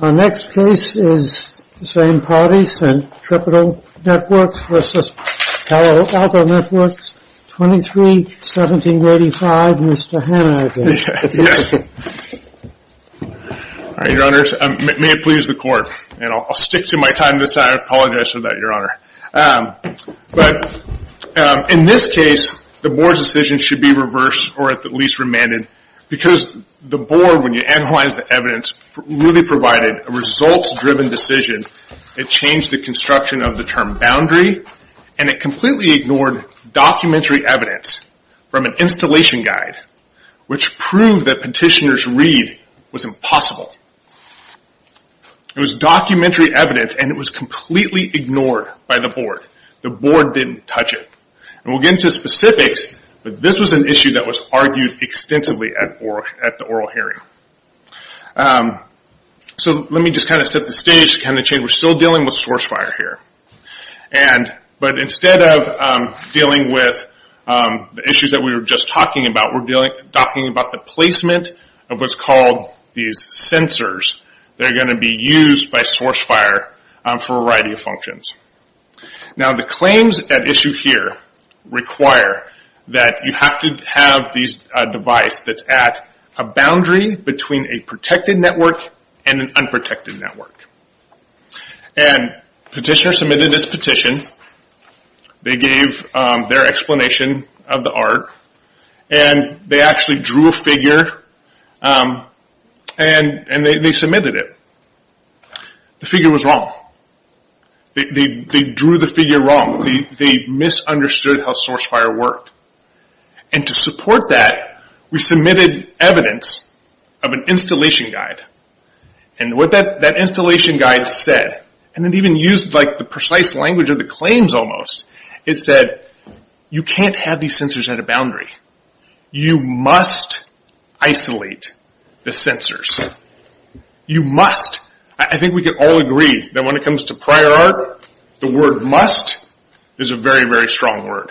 Our next case is the same parties, Centripetal Networks v. Palo Alto Networks, 23-1785, Mr. Hanna, I think. All right, your honors, may it please the court, and I'll stick to my time this time, I apologize for that, your honor. But, in this case, the board's decision should be reversed, or at least remanded, because the board, when you analyze the evidence, really provided a results-driven decision. It changed the construction of the term boundary, and it completely ignored documentary evidence from an installation guide, which proved that petitioner's read was impossible. It was documentary evidence, and it was completely ignored by the board. The board didn't touch it. We'll get into specifics, but this was an issue that was argued extensively at the oral hearing. Let me just set the stage to change. We're still dealing with source fire here. But instead of dealing with the issues that we were just talking about, we're talking about the placement of what's called these sensors. They're going to be used by source fire for a variety of functions. Now, the claims at issue here require that you have to have a device that's at a boundary between a protected network and an unprotected network. And petitioner submitted his petition, they gave their explanation of the art, and they actually drew a figure, and they submitted it. The figure was wrong. They drew the figure wrong. They misunderstood how source fire worked. And to support that, we submitted evidence of an installation guide. And what that installation guide said, and it even used the precise language of the claims almost, it said, you can't have these sensors at a boundary. You must isolate the sensors. You must. I think we can all agree that when it comes to prior art, the word must is a very, very strong word.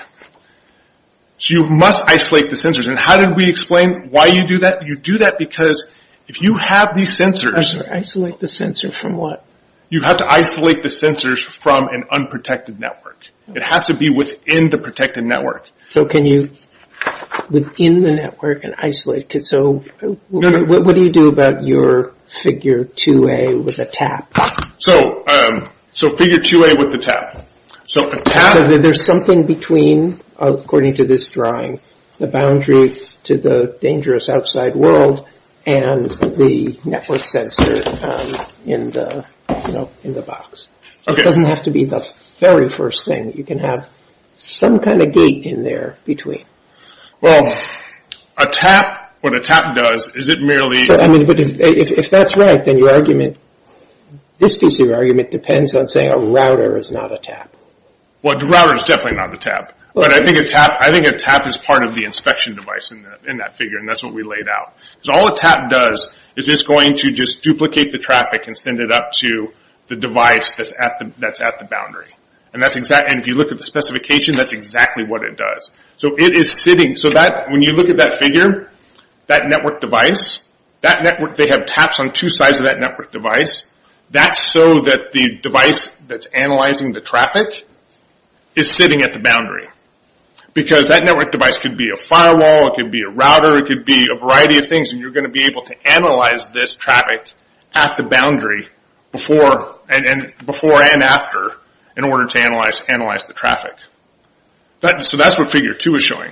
So you must isolate the sensors. And how did we explain why you do that? You do that because if you have these sensors... Isolate the sensors from what? You have to isolate the sensors from an unprotected network. It has to be within the protected network. So can you, within the network and isolate? So what do you do about your figure 2A with a tap? So figure 2A with the tap. So there's something between, according to this drawing, the boundary to the dangerous outside world and the network sensor in the box. It doesn't have to be the very first thing. You can have some kind of gate in there between. Well, a tap, what a tap does is it merely... But if that's right, then your argument... This piece of your argument depends on saying a router is not a tap. Well, a router is definitely not a tap. But I think a tap is part of the inspection device in that figure. And that's what we laid out. Because all a tap does is it's going to just duplicate the traffic and send it up to the device that's at the boundary. And if you look at the specification, that's exactly what it does. So it is sitting... So when you look at that figure, that network device, they have taps on two sides of that network device. That's so that the device that's analyzing the traffic is sitting at the boundary. Because that network device could be a firewall, it could be a router, it could be a variety of things. And you're going to be able to analyze this traffic at the boundary before and after in order to analyze the traffic. So that's what figure two is showing.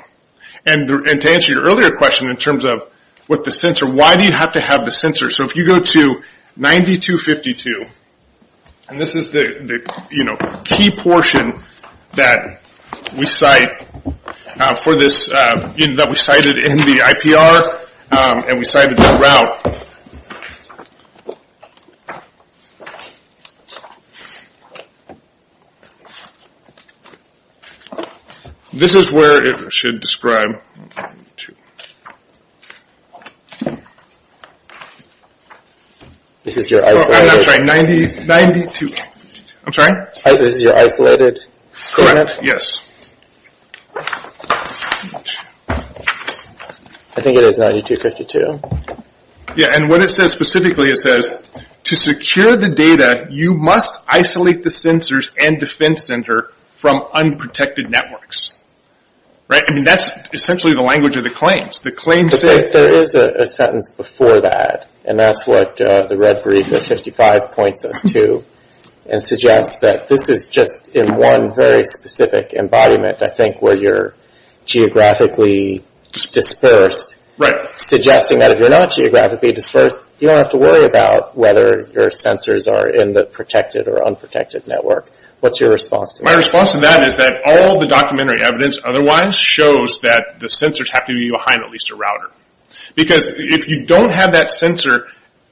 And to answer your earlier question in terms of with the sensor, why do you have to have the sensor? So if you go to 9252, and this is the key portion that we cite for this... that we cited in the IPR and we cited that route. This is where it should describe... This is your isolated... I'm sorry, 9252. I'm sorry? This is your isolated... Correct, yes. I think it is 9252. Yeah, and what it says specifically, it says, To secure the data, you must isolate the sensors and defense center from unprotected networks. Right? I mean, that's essentially the language of the claims. The claims... But there is a sentence before that. And that's what the red brief of 55 points us to. And suggests that this is just in one very specific embodiment, I think, where you're geographically dispersed. Right. Suggesting that if you're not geographically dispersed, you don't have to worry about whether your sensors are in the protected or unprotected network. What's your response to that? My response to that is that all the documentary evidence otherwise shows that the sensors have to be behind at least a router. Because if you don't have that sensor...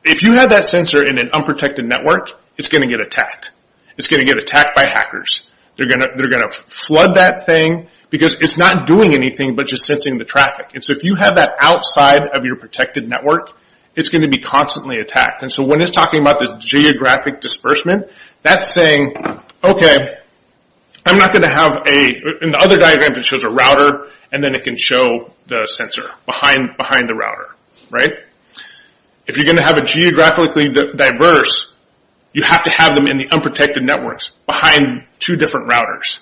If you have that sensor in an unprotected network, it's going to get attacked. It's going to get attacked by hackers. They're going to flood that thing because it's not doing anything but just sensing the traffic. And so if you have that outside of your protected network, it's going to be constantly attacked. And so when it's talking about this geographic disbursement, that's saying, okay, I'm not going to have a... In the other diagram, it shows a router, and then it can show the sensor behind the router. Right. If you're going to have a geographically diverse, you have to have them in the unprotected networks behind two different routers.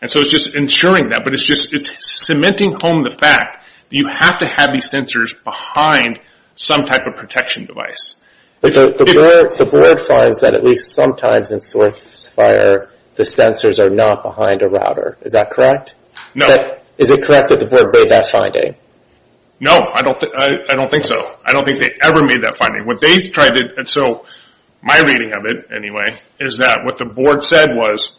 And so it's just ensuring that. But it's just... It's cementing home the fact that you have to have these sensors behind some type of protection device. But the board finds that at least sometimes in source fire, the sensors are not behind a router. Is that correct? No. Is it correct that the board made that finding? No, I don't think so. I don't think they ever made that finding. What they've tried to... And so my reading of it, anyway, is that what the board said was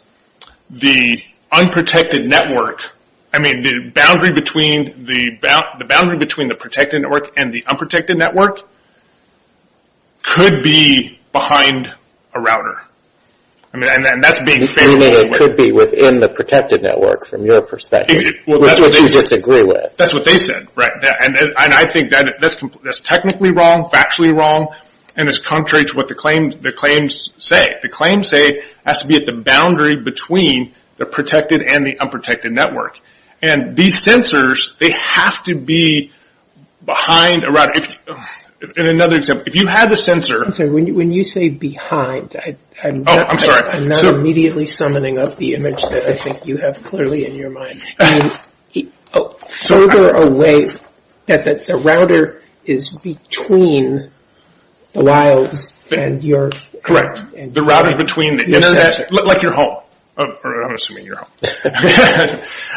the unprotected network... I mean, the boundary between the protected network and the unprotected network could be behind a router. And that's being... It could be within the protected network from your perspective. Which is what you disagree with. That's what they said. And I think that's technically wrong, factually wrong, and it's contrary to what the claims say. The claims say it has to be at the boundary between the protected and the unprotected network. And these sensors, they have to be behind a router. In another example, if you had the sensor... I'm sorry. When you say behind, I'm not immediately summoning up the image that I think you have clearly in your mind. And further away, that the router is between the wilds and your... Correct. The router is between the Internet... Yes, that's it. Like your home. I'm assuming your home.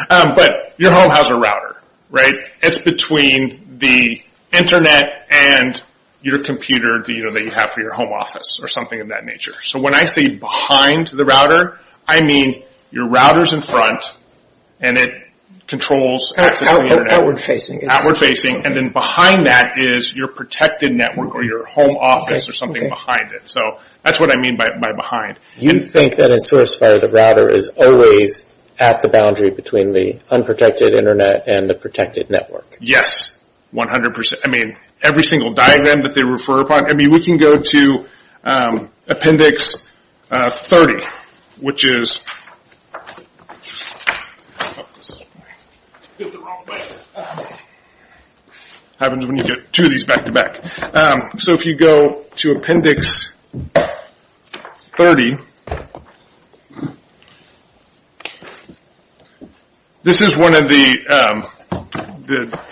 But your home has a router, right? It's between the Internet and your computer that you have for your home office or something of that nature. So when I say behind the router, I mean your router's in front and it controls access to the Internet. Outward facing. Outward facing. And then behind that is your protected network or your home office or something behind it. So that's what I mean by behind. You think that in SourceFire, the router is always at the boundary between the unprotected Internet and the protected network. Yes, 100%. I mean, every single diagram that they refer upon... I mean, we can go to Appendix 30, which is... It happens when you get two of these back-to-back. So if you go to Appendix 30, this is one of the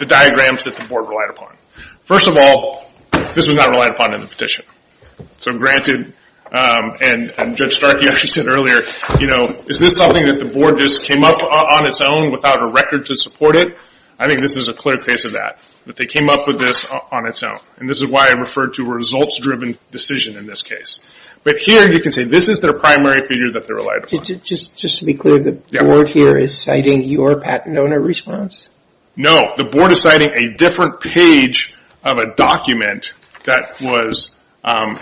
diagrams that the board relied upon. First of all, this was not relied upon in the petition. So granted, and Judge Stark, you actually said earlier, is this something that the board just came up on its own without a record to support it? I think this is a clear case of that. That they came up with this on its own. And this is why I referred to a results-driven decision in this case. But here you can say this is their primary figure that they relied upon. Just to be clear, the board here is citing your patent owner response? No, the board is citing a different page of a document that was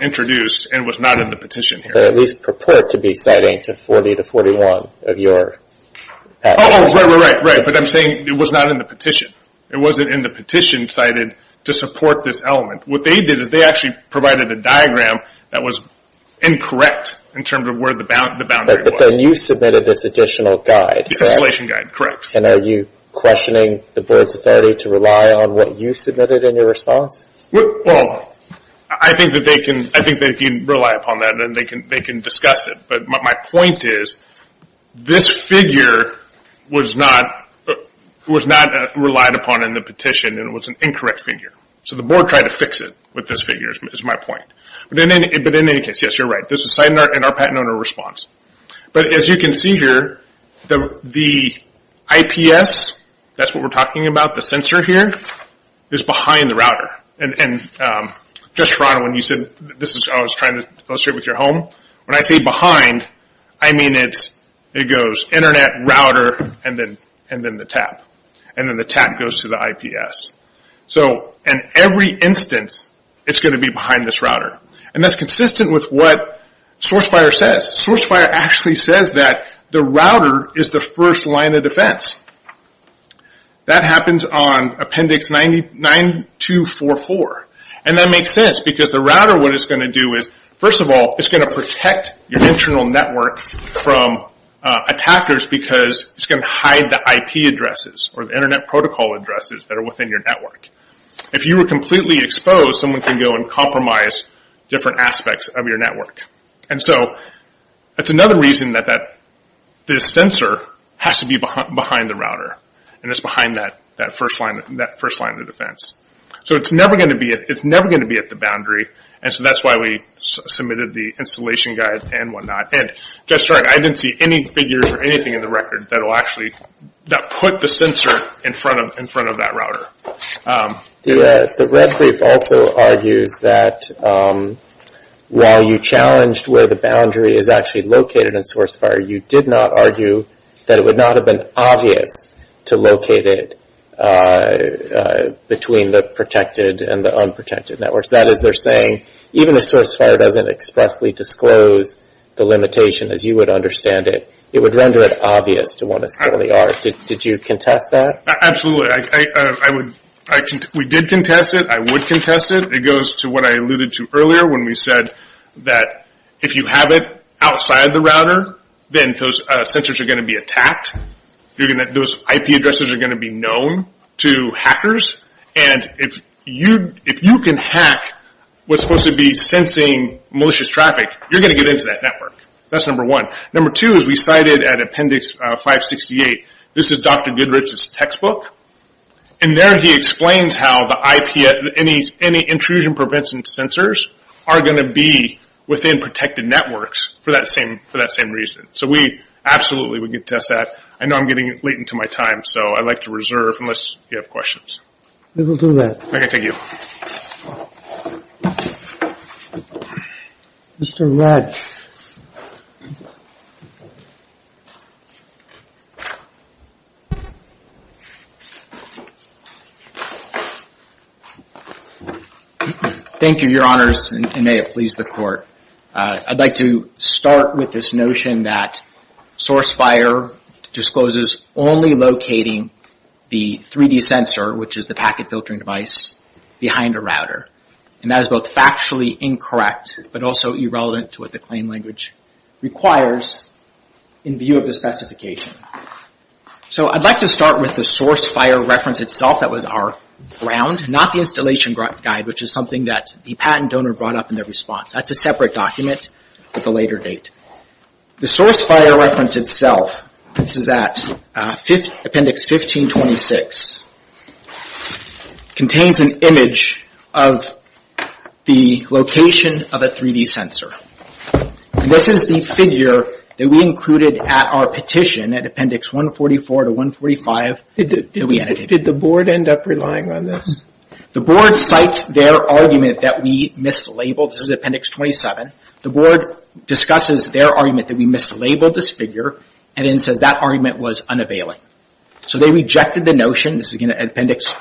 introduced and was not in the petition here. But at least purport to be citing to 40 to 41 of your... Oh, right, right, right. But I'm saying it was not in the petition. It wasn't in the petition cited to support this element. What they did is they actually provided a diagram that was incorrect in terms of where the boundary was. But then you submitted this additional guide, correct? The installation guide, correct. And are you questioning the board's authority to rely on what you submitted in your response? Well, I think that they can rely upon that and they can discuss it. But my point is this figure was not relied upon in the petition and it was an incorrect figure. So the board tried to fix it with this figure is my point. But in any case, yes, you're right. This is citing our patent owner response. But as you can see here, the IPS, that's what we're talking about, the sensor here, is behind the router. And just, Ron, when you said... I was trying to illustrate with your home. When I say behind, I mean it goes internet, router, and then the tap. And then the tap goes to the IPS. So in every instance, it's going to be behind this router. And that's consistent with what SourceFire says. SourceFire actually says that the router is the first line of defense. That happens on Appendix 9244. And that makes sense because the router, what it's going to do is, first of all, it's going to protect your internal network from attackers because it's going to hide the IP addresses or the internet protocol addresses that are within your network. If you were completely exposed, someone could go and compromise different aspects of your network. And so that's another reason that this sensor has to be behind the router and it's behind that first line of defense. So it's never going to be at the boundary. And so that's why we submitted the installation guide and whatnot. And just so you know, I didn't see any figures or anything in the record that will actually put the sensor in front of that router. The red brief also argues that while you challenged where the boundary is actually located in SourceFire, you did not argue that it would not have been obvious to locate it between the protected and the unprotected networks. That is, they're saying even if SourceFire doesn't expressly disclose the limitation, as you would understand it, it would render it obvious to want to steal the art. Did you contest that? Absolutely. We did contest it. I would contest it. It goes to what I alluded to earlier when we said that if you have it outside the router, then those sensors are going to be attacked. Those IP addresses are going to be known to hackers. And if you can hack what's supposed to be sensing malicious traffic, you're going to get into that network. That's number one. Number two is we cited at Appendix 568, this is Dr. Goodrich's textbook, and there he explains how any intrusion prevention sensors are going to be within protected networks for that same reason. So we absolutely would contest that. I know I'm getting late into my time, so I'd like to reserve unless you have questions. We will do that. Okay, thank you. Mr. Ratz. Thank you, Your Honors, and may it please the Court. I'd like to start with this notion that SourceFire discloses only locating the 3D sensor, which is the packet filtering device, behind a router. And that is both factually incorrect, but also irrelevant to what the claim language requires in view of the specification. So I'd like to start with the SourceFire reference itself that was our ground, not the installation guide, which is something that the patent donor brought up in their response. That's a separate document with a later date. The SourceFire reference itself, this is at Appendix 1526, contains an image of the location of a 3D sensor. This is the figure that we included at our petition at Appendix 144 to 145 that we edited. Did the Board end up relying on this? The Board cites their argument that we mislabeled. This is at Appendix 27. The Board discusses their argument that we mislabeled this figure and then says that argument was unavailing. So they rejected the notion. This is, again, at Appendix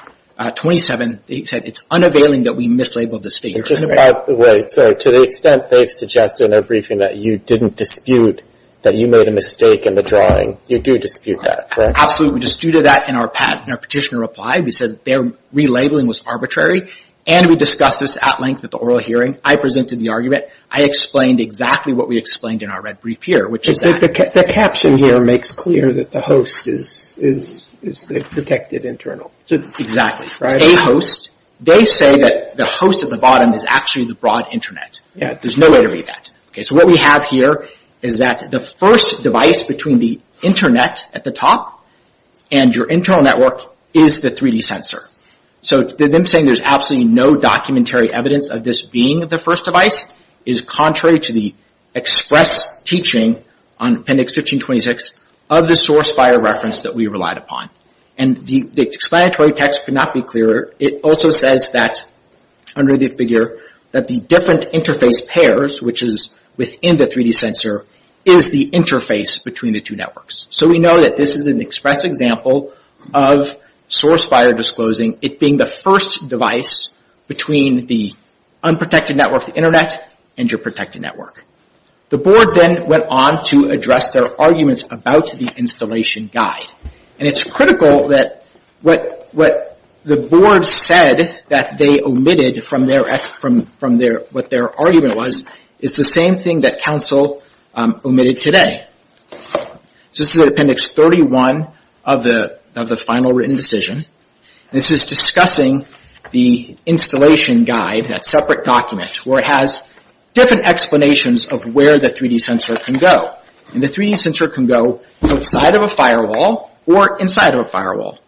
27. They said it's unavailing that we mislabeled this figure. Just by the way, to the extent they've suggested in their briefing that you didn't dispute that you made a mistake in the drawing, you do dispute that, correct? Absolutely. We disputed that in our petition reply. We said their relabeling was arbitrary, and we discussed this at length at the oral hearing. I presented the argument. I explained exactly what we explained in our red brief here, which is that... The caption here makes clear that the host is the protected internal. Exactly. It's a host. They say that the host at the bottom is actually the broad Internet. There's no way to read that. So what we have here is that the first device between the Internet at the top and your internal network is the 3D sensor. So them saying there's absolutely no documentary evidence of this being the first device is contrary to the express teaching on Appendix 1526 of the source FHIR reference that we relied upon. The explanatory text could not be clearer. It also says that under the figure that the different interface pairs, which is within the 3D sensor, is the interface between the two networks. So we know that this is an express example of source FHIR disclosing it being the first device between the unprotected network, the Internet, and your protected network. The board then went on to address their arguments about the installation guide. It's critical that what the board said that they omitted from what their argument was is the same thing that counsel omitted today. So this is at Appendix 31 of the final written decision. This is discussing the installation guide, that separate document, where it has different explanations of where the 3D sensor can go. And the 3D sensor can go outside of a firewall or inside of a firewall.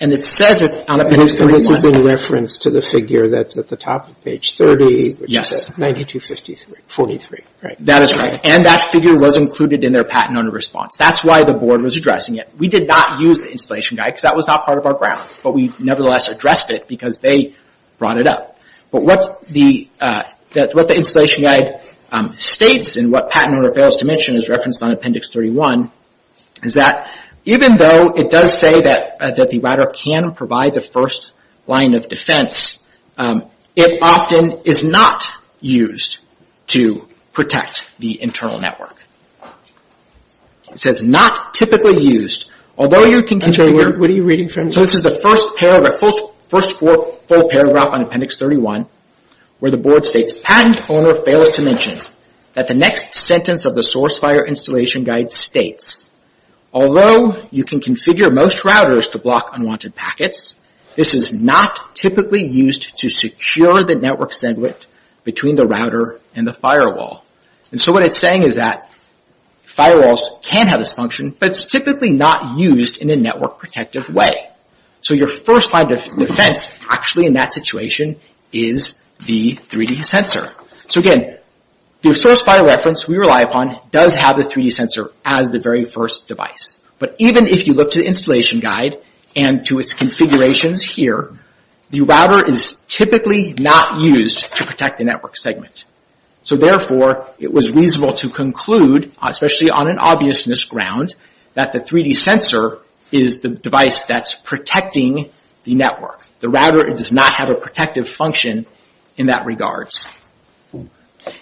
And it says it on Appendix 31. And this is in reference to the figure that's at the top of page 30, which is 9253, 43, right? That is right. And that figure was included in their patent owner response. That's why the board was addressing it. We did not use the installation guide, because that was not part of our ground. But we nevertheless addressed it, because they brought it up. But what the installation guide states, and what patent owner fails to mention is referenced on Appendix 31, is that even though it does say that the router can provide the first line of defense, it often is not used to protect the internal network. It says not typically used, although you can configure... What are you reading from? So this is the first paragraph, first full paragraph on Appendix 31, where the board states, patent owner fails to mention that the next sentence of the source fire installation guide states, although you can configure most routers to block unwanted packets, this is not typically used to secure the network segment between the router and the firewall. And so what it's saying is that firewalls can have this function, but it's typically not used in a network protective way. So your first line of defense, actually, in that situation, is the 3D sensor. So, again, the source fire reference we rely upon does have the 3D sensor as the very first device. But even if you look to the installation guide and to its configurations here, the router is typically not used to protect the network segment. So, therefore, it was reasonable to conclude, especially on an obviousness ground, that the 3D sensor is the device that's protecting the network. The router does not have a protective function in that regards.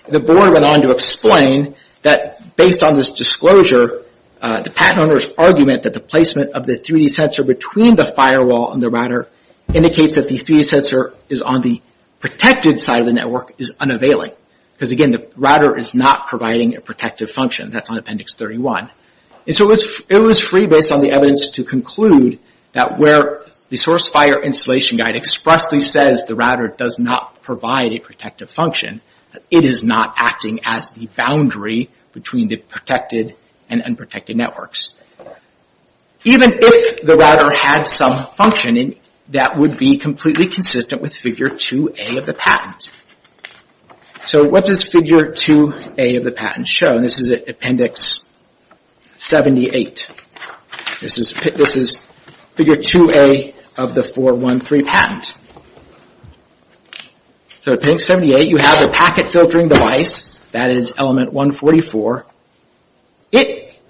The board went on to explain that based on this disclosure, the patent owner's argument that the placement of the 3D sensor between the firewall and the router indicates that the 3D sensor is on the protected side of the network is unavailing. Because, again, the router is not providing a protective function. That's on Appendix 31. And so it was free based on the evidence to conclude that where the source fire installation guide expressly says the router does not provide a protective function, it is not acting as the boundary between the protected and unprotected networks. Even if the router had some function, that would be completely consistent with Figure 2A of the patent. So what does Figure 2A of the patent show? This is Appendix 78. This is Figure 2A of the 413 patent. So Appendix 78, you have the packet filtering device. That is Element 144.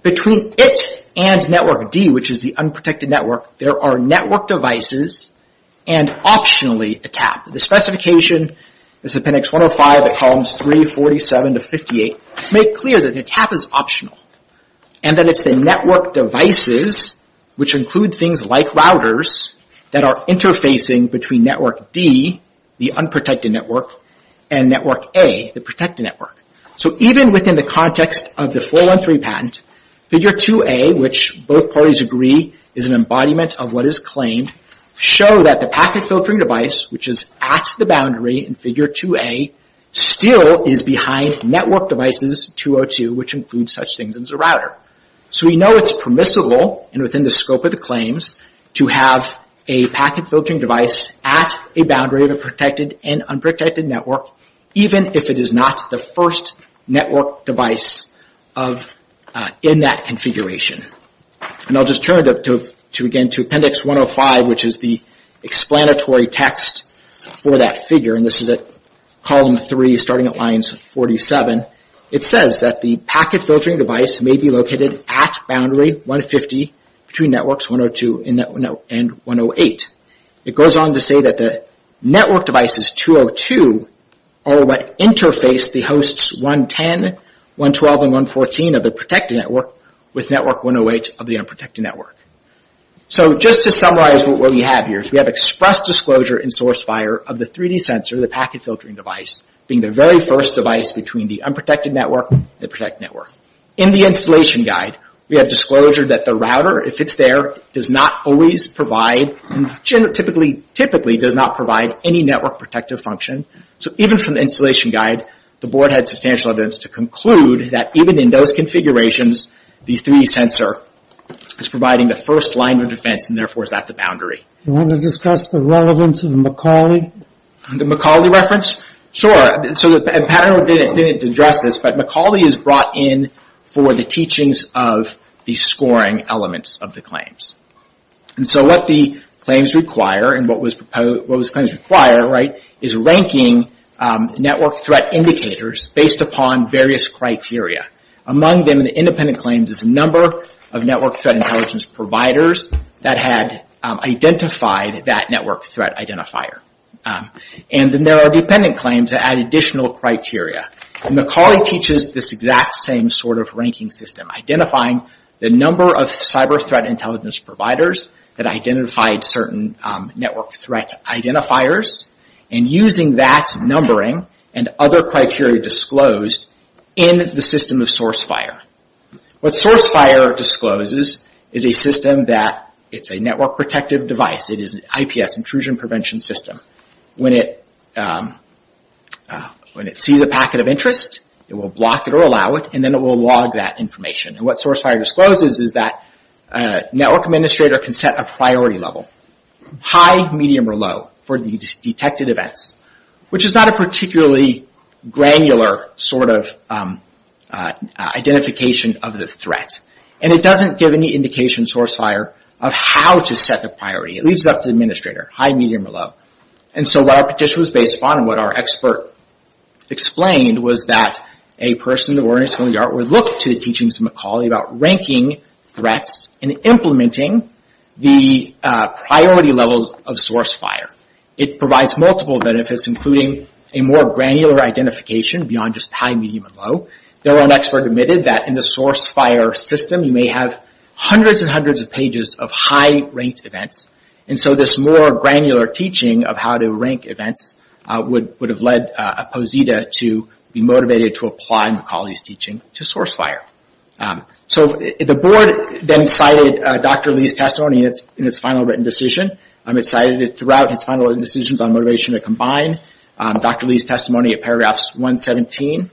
Between it and Network D, which is the unprotected network, there are network devices and, optionally, a tap. The specification is Appendix 105, Columns 3, 47 to 58, to make clear that the tap is optional. And then it's the network devices, which include things like routers, that are interfacing between Network D, the unprotected network, and Network A, the protected network. So even within the context of the 413 patent, Figure 2A, which both parties agree is an embodiment of what is claimed, show that the packet filtering device, which is at the boundary in Figure 2A, still is behind Network Devices 202, which includes such things as a router. So we know it's permissible, and within the scope of the claims, to have a packet filtering device at a boundary of a protected and unprotected network, even if it is not the first network device in that configuration. And I'll just turn, again, to Appendix 105, which is the explanatory text for that figure. And this is at Column 3, starting at lines 47. It says that the packet filtering device may be located at Boundary 150 between Networks 102 and 108. It goes on to say that Network Devices 202 are what interface the hosts 110, 112, and 114 of the protected network with Network 108 of the unprotected network. So just to summarize what we have here, we have express disclosure in SourceFire of the 3D sensor, the packet filtering device, being the very first device between the unprotected network and the protected network. In the installation guide, we have disclosure that the router, if it's there, does not always provide, typically does not provide any network protective function. So even from the installation guide, the Board had substantial evidence to conclude that even in those configurations, the 3D sensor is providing the first line of defense and therefore is at the boundary. Do you want to discuss the relevance of the Macaulay? The Macaulay reference? Sure. So the panel didn't address this, but Macaulay is brought in for the teachings of the scoring elements of the claims. And so what the claims require, and what those claims require, is ranking network threat indicators based upon various criteria. Among them, the independent claims is a number of network threat intelligence providers that had identified that network threat identifier. And then there are dependent claims that add additional criteria. Macaulay teaches this exact same sort of ranking system, identifying the number of cyber threat intelligence providers that identified certain network threat identifiers, and using that numbering and other criteria disclosed in the system of source FHIR. What source FHIR discloses is a system that, it's a network protective device, it is an IPS, intrusion prevention system. When it sees a packet of interest, it will block it or allow it, and then it will log that information. And what source FHIR discloses is that a network administrator can set a priority level, high, medium, or low, for these detected events, which is not a particularly granular sort of identification of the threat. And it doesn't give any indication, source FHIR, of how to set the priority. It leaves it up to the administrator, high, medium, or low. And so what our petition was based upon, and what our expert explained, was that a person that were in a schoolyard would look to the teachings of Macaulay about ranking threats and implementing the priority levels of source FHIR. It provides multiple benefits, including a more granular identification beyond just high, medium, and low. Though an expert admitted that in the source FHIR system, you may have hundreds and hundreds of pages of high-ranked events. And so this more granular teaching of how to rank events would have led Posita to be motivated to apply Macaulay's teaching to source FHIR. So the board then cited Dr. Lee's testimony in its final written decision. It cited it throughout its final written decisions on motivation to combine. Dr. Lee's testimony at paragraphs 117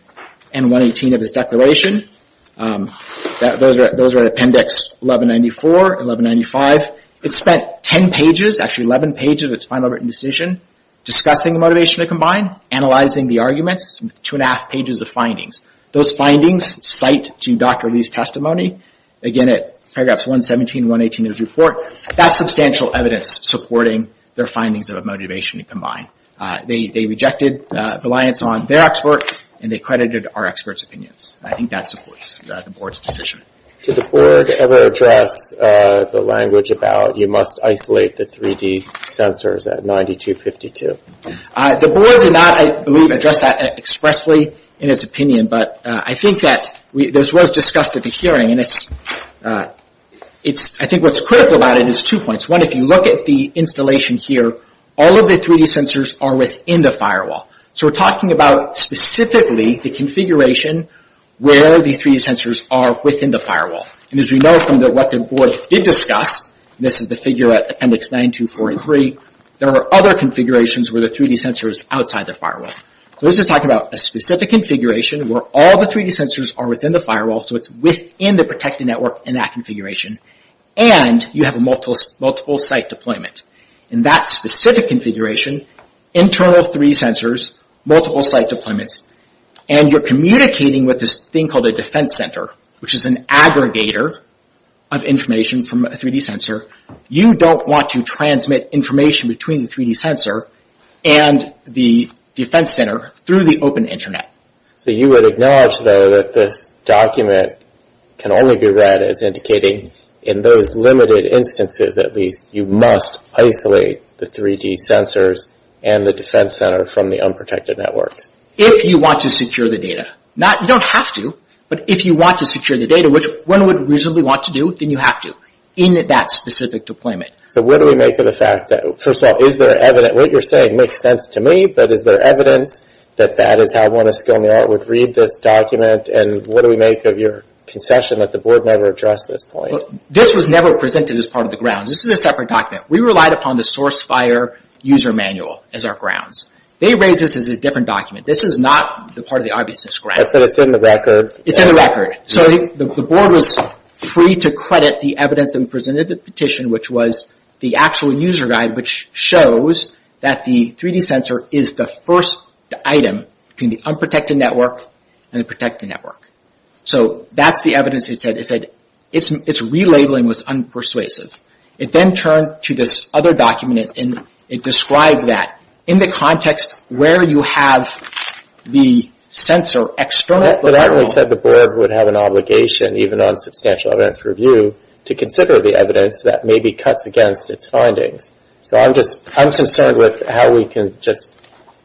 and 118 of his declaration. Those are appendix 1194, 1195. It spent 10 pages, actually 11 pages, of its final written decision discussing the motivation to combine, analyzing the arguments, with two and a half pages of findings. Those findings cite to Dr. Lee's testimony, again at paragraphs 117 and 118 of his report. That's substantial evidence supporting their findings of motivation to combine. They rejected reliance on their expert, and they credited our expert's opinions. I think that supports the board's decision. Did the board ever address the language about you must isolate the 3D sensors at 9252? The board did not, I believe, address that expressly in its opinion, but I think that this was discussed at the hearing, and I think what's critical about it is two points. One, if you look at the installation here, all of the 3D sensors are within the firewall. So we're talking about specifically the configuration where the 3D sensors are within the firewall. And as we know from what the board did discuss, this is the figure at appendix 9243, there are other configurations where the 3D sensor is outside the firewall. This is talking about a specific configuration where all the 3D sensors are within the firewall, so it's within the protected network in that configuration, and you have a multiple site deployment. In that specific configuration, internal 3D sensors, multiple site deployments, and you're communicating with this thing called a defense center, which is an aggregator of information from a 3D sensor. You don't want to transmit information between the 3D sensor and the defense center through the open internet. So you would acknowledge, though, that this document can only be read as indicating in those limited instances, at least, you must isolate the 3D sensors and the defense center from the unprotected networks. If you want to secure the data. You don't have to, but if you want to secure the data, which one would reasonably want to do, then you have to, in that specific deployment. So what do we make of the fact that, first of all, is there evidence, what you're saying makes sense to me, but is there evidence that that is how one of Skilner would read this document, and what do we make of your concession that the board never addressed this point? This was never presented as part of the grounds. This is a separate document. We relied upon the source fire user manual as our grounds. They raised this as a different document. This is not part of the obviousness, correct? But it's in the record. It's in the record. So the board was free to credit the evidence that was presented in the petition, which was the actual user guide, which shows that the 3D sensor is the first item between the unprotected network and the protected network. So that's the evidence. It said its relabeling was unpersuasive. It then turned to this other document, and it described that in the context where you have the sensor external to the firewall. But that really said the board would have an obligation, even on substantial evidence review, to consider the evidence that maybe cuts against its findings. So I'm concerned with how we can just...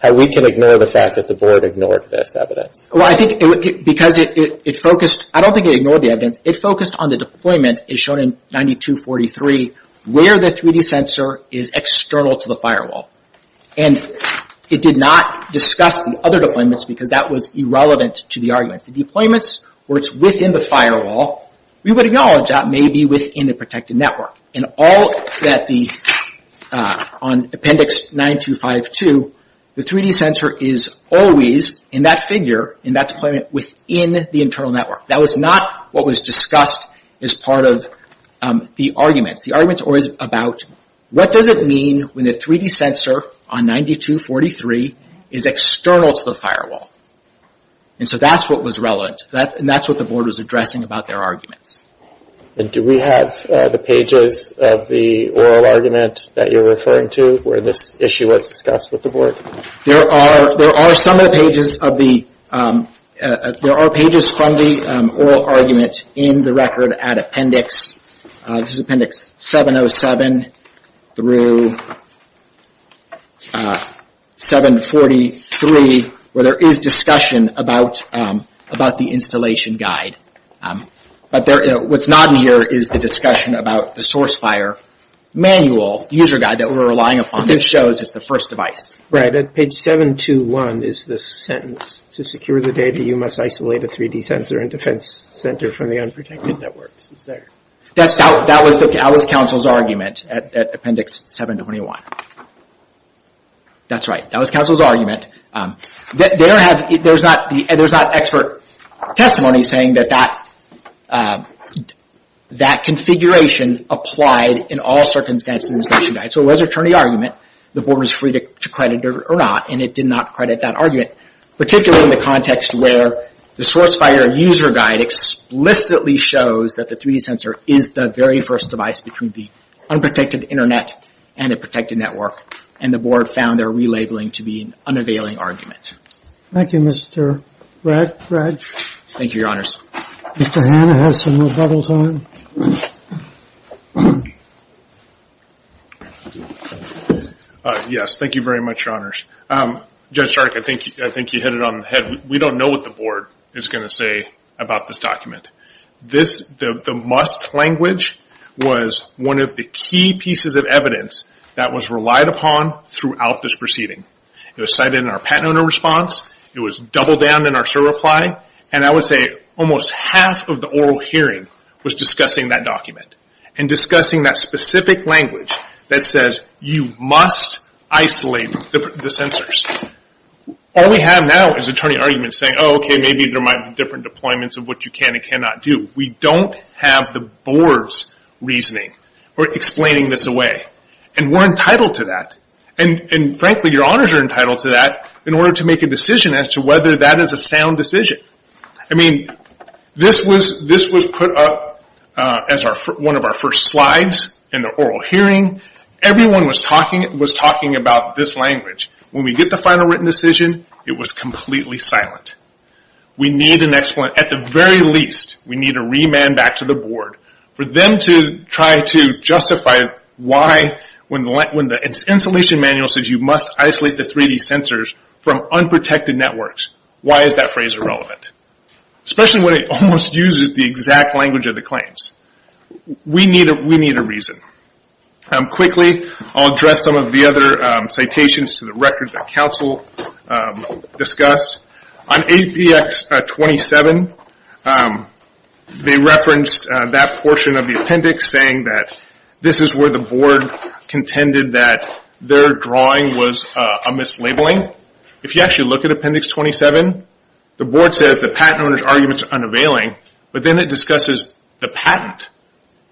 how we can ignore the fact that the board ignored this evidence. Well, I think because it focused... I don't think it ignored the evidence. It focused on the deployment, as shown in 9243, where the 3D sensor is external to the firewall. And it did not discuss the other deployments because that was irrelevant to the arguments. The deployments where it's within the firewall, we would acknowledge that may be within the protected network. And all that the... on Appendix 9252, the 3D sensor is always, in that figure, in that deployment, within the internal network. That was not what was discussed as part of the arguments. The argument's always about what does it mean when the 3D sensor on 9243 is external to the firewall? And so that's what was relevant. And that's what the board was addressing about their arguments. And do we have the pages of the oral argument that you're referring to where this issue was discussed with the board? There are some of the pages of the... there are pages from the oral argument in the record at Appendix... this is Appendix 707 through 743 where there is discussion about the installation guide. But what's not in here is the discussion about the source fire manual, user guide that we're relying upon that shows it's the first device. Right, at page 721 is the sentence, to secure the data, you must isolate a 3D sensor and defense center from the unprotected networks. That was council's argument at Appendix 721. That's right. That was council's argument. There's not expert testimony saying that that configuration applied in all circumstances to the installation guide. So it was an attorney argument. The board was free to credit it or not. And it did not credit that argument. Particularly in the context where the source fire user guide explicitly shows that the 3D sensor is the very first device between the unprotected internet and a protected network. And the board found their relabeling to be an unavailing argument. Thank you, Mr. Bradge. Thank you, your honors. Mr. Hanna has some more bubble time. Yes, thank you very much, your honors. Judge Stark, I think you hit it on the head. We don't know what the board is going to say about this document. The must language was one of the key pieces of evidence that was relied upon throughout this proceeding. It was cited in our patent owner response. It was doubled down in our SIR reply. And I would say almost half of the oral hearing was discussing that document. And discussing that specific language that says you must isolate the sensors. All we have now is attorney arguments saying okay, maybe there might be different deployments of what you can and cannot do. We don't have the board's reasoning or explaining this away. And we're entitled to that. And frankly, your honors are entitled to that in order to make a decision as to whether that is a sound decision. I mean, this was put up as one of our first slides in the oral hearing. Everyone was talking about this language. When we get the final written decision, it was completely silent. We need an explanation. At the very least, we need a remand back to the board for them to try to justify why when the installation manual says you must isolate the 3D sensors from unprotected networks, why is that phrase irrelevant? Especially when it almost uses the exact language of the claims. We need a reason. Quickly, I'll address some of the other citations to the record that council discussed. On APX 27, they referenced that portion of the appendix saying that this is where the board contended that their drawing was a mislabeling. If you actually look at appendix 27, the board says the patent owner's arguments are unavailing. But then it discusses the patent.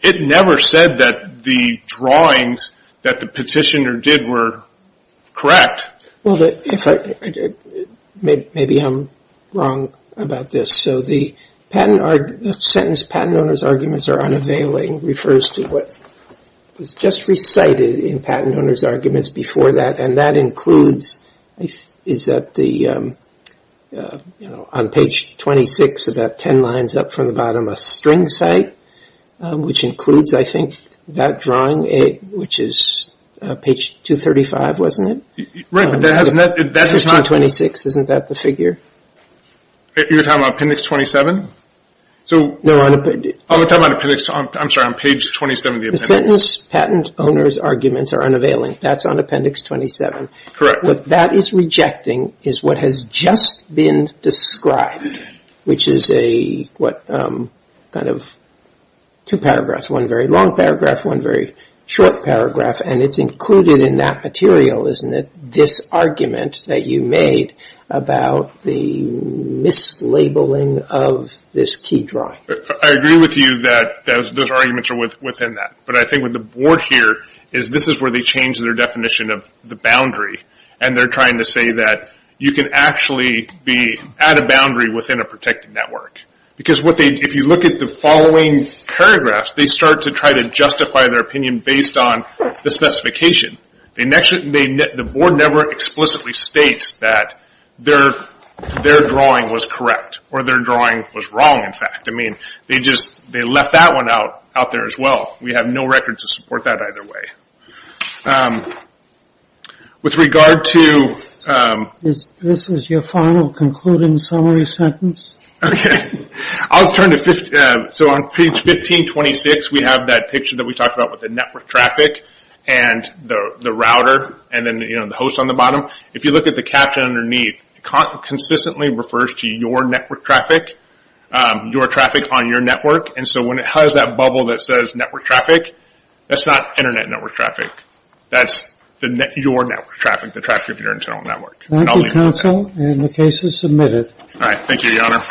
It never said that the drawings that the petitioner did were correct. Maybe I'm wrong about this. The sentence, patent owner's arguments are unavailing, refers to what was just recited in patent owner's arguments before that. That includes, is that on page 26, about 10 lines up from the bottom, a string site, which includes, I think, that drawing, which is page 235, wasn't it? 1526, isn't that the figure? You're talking about appendix 27? No. I'm talking about appendix, I'm sorry, on page 27 of the appendix. The sentence, patent owner's arguments are unavailing, that's on appendix 27. Correct. What that is rejecting is what has just been described, which is a, what kind of, two paragraphs, one very long paragraph, one very short paragraph, and it's included in that material, isn't it? This argument that you made about the mislabeling of this key drawing. I agree with you that those arguments are within that, but I think what the board here is this is where they change their definition of the boundary, and they're trying to say that you can actually be at a boundary within a protected network. Because what they, if you look at the following paragraphs, they start to try to justify their opinion based on the specification. The board never explicitly states that their drawing was correct, or their drawing was wrong, in fact. I mean, they just, they left that one out there as well. We have no record to support that either way. With regard to, This is your final concluding summary sentence? Okay. I'll turn to, So on page 1526, we have that picture that we talked about with the network traffic, and the router, and then the host on the bottom. If you look at the caption underneath, it consistently refers to your network traffic, your traffic on your network, and so when it has that bubble that says network traffic, that's not internet network traffic. That's your network traffic, the traffic of your internal network. Thank you, counsel, and the case is submitted. Thank you, Your Honor.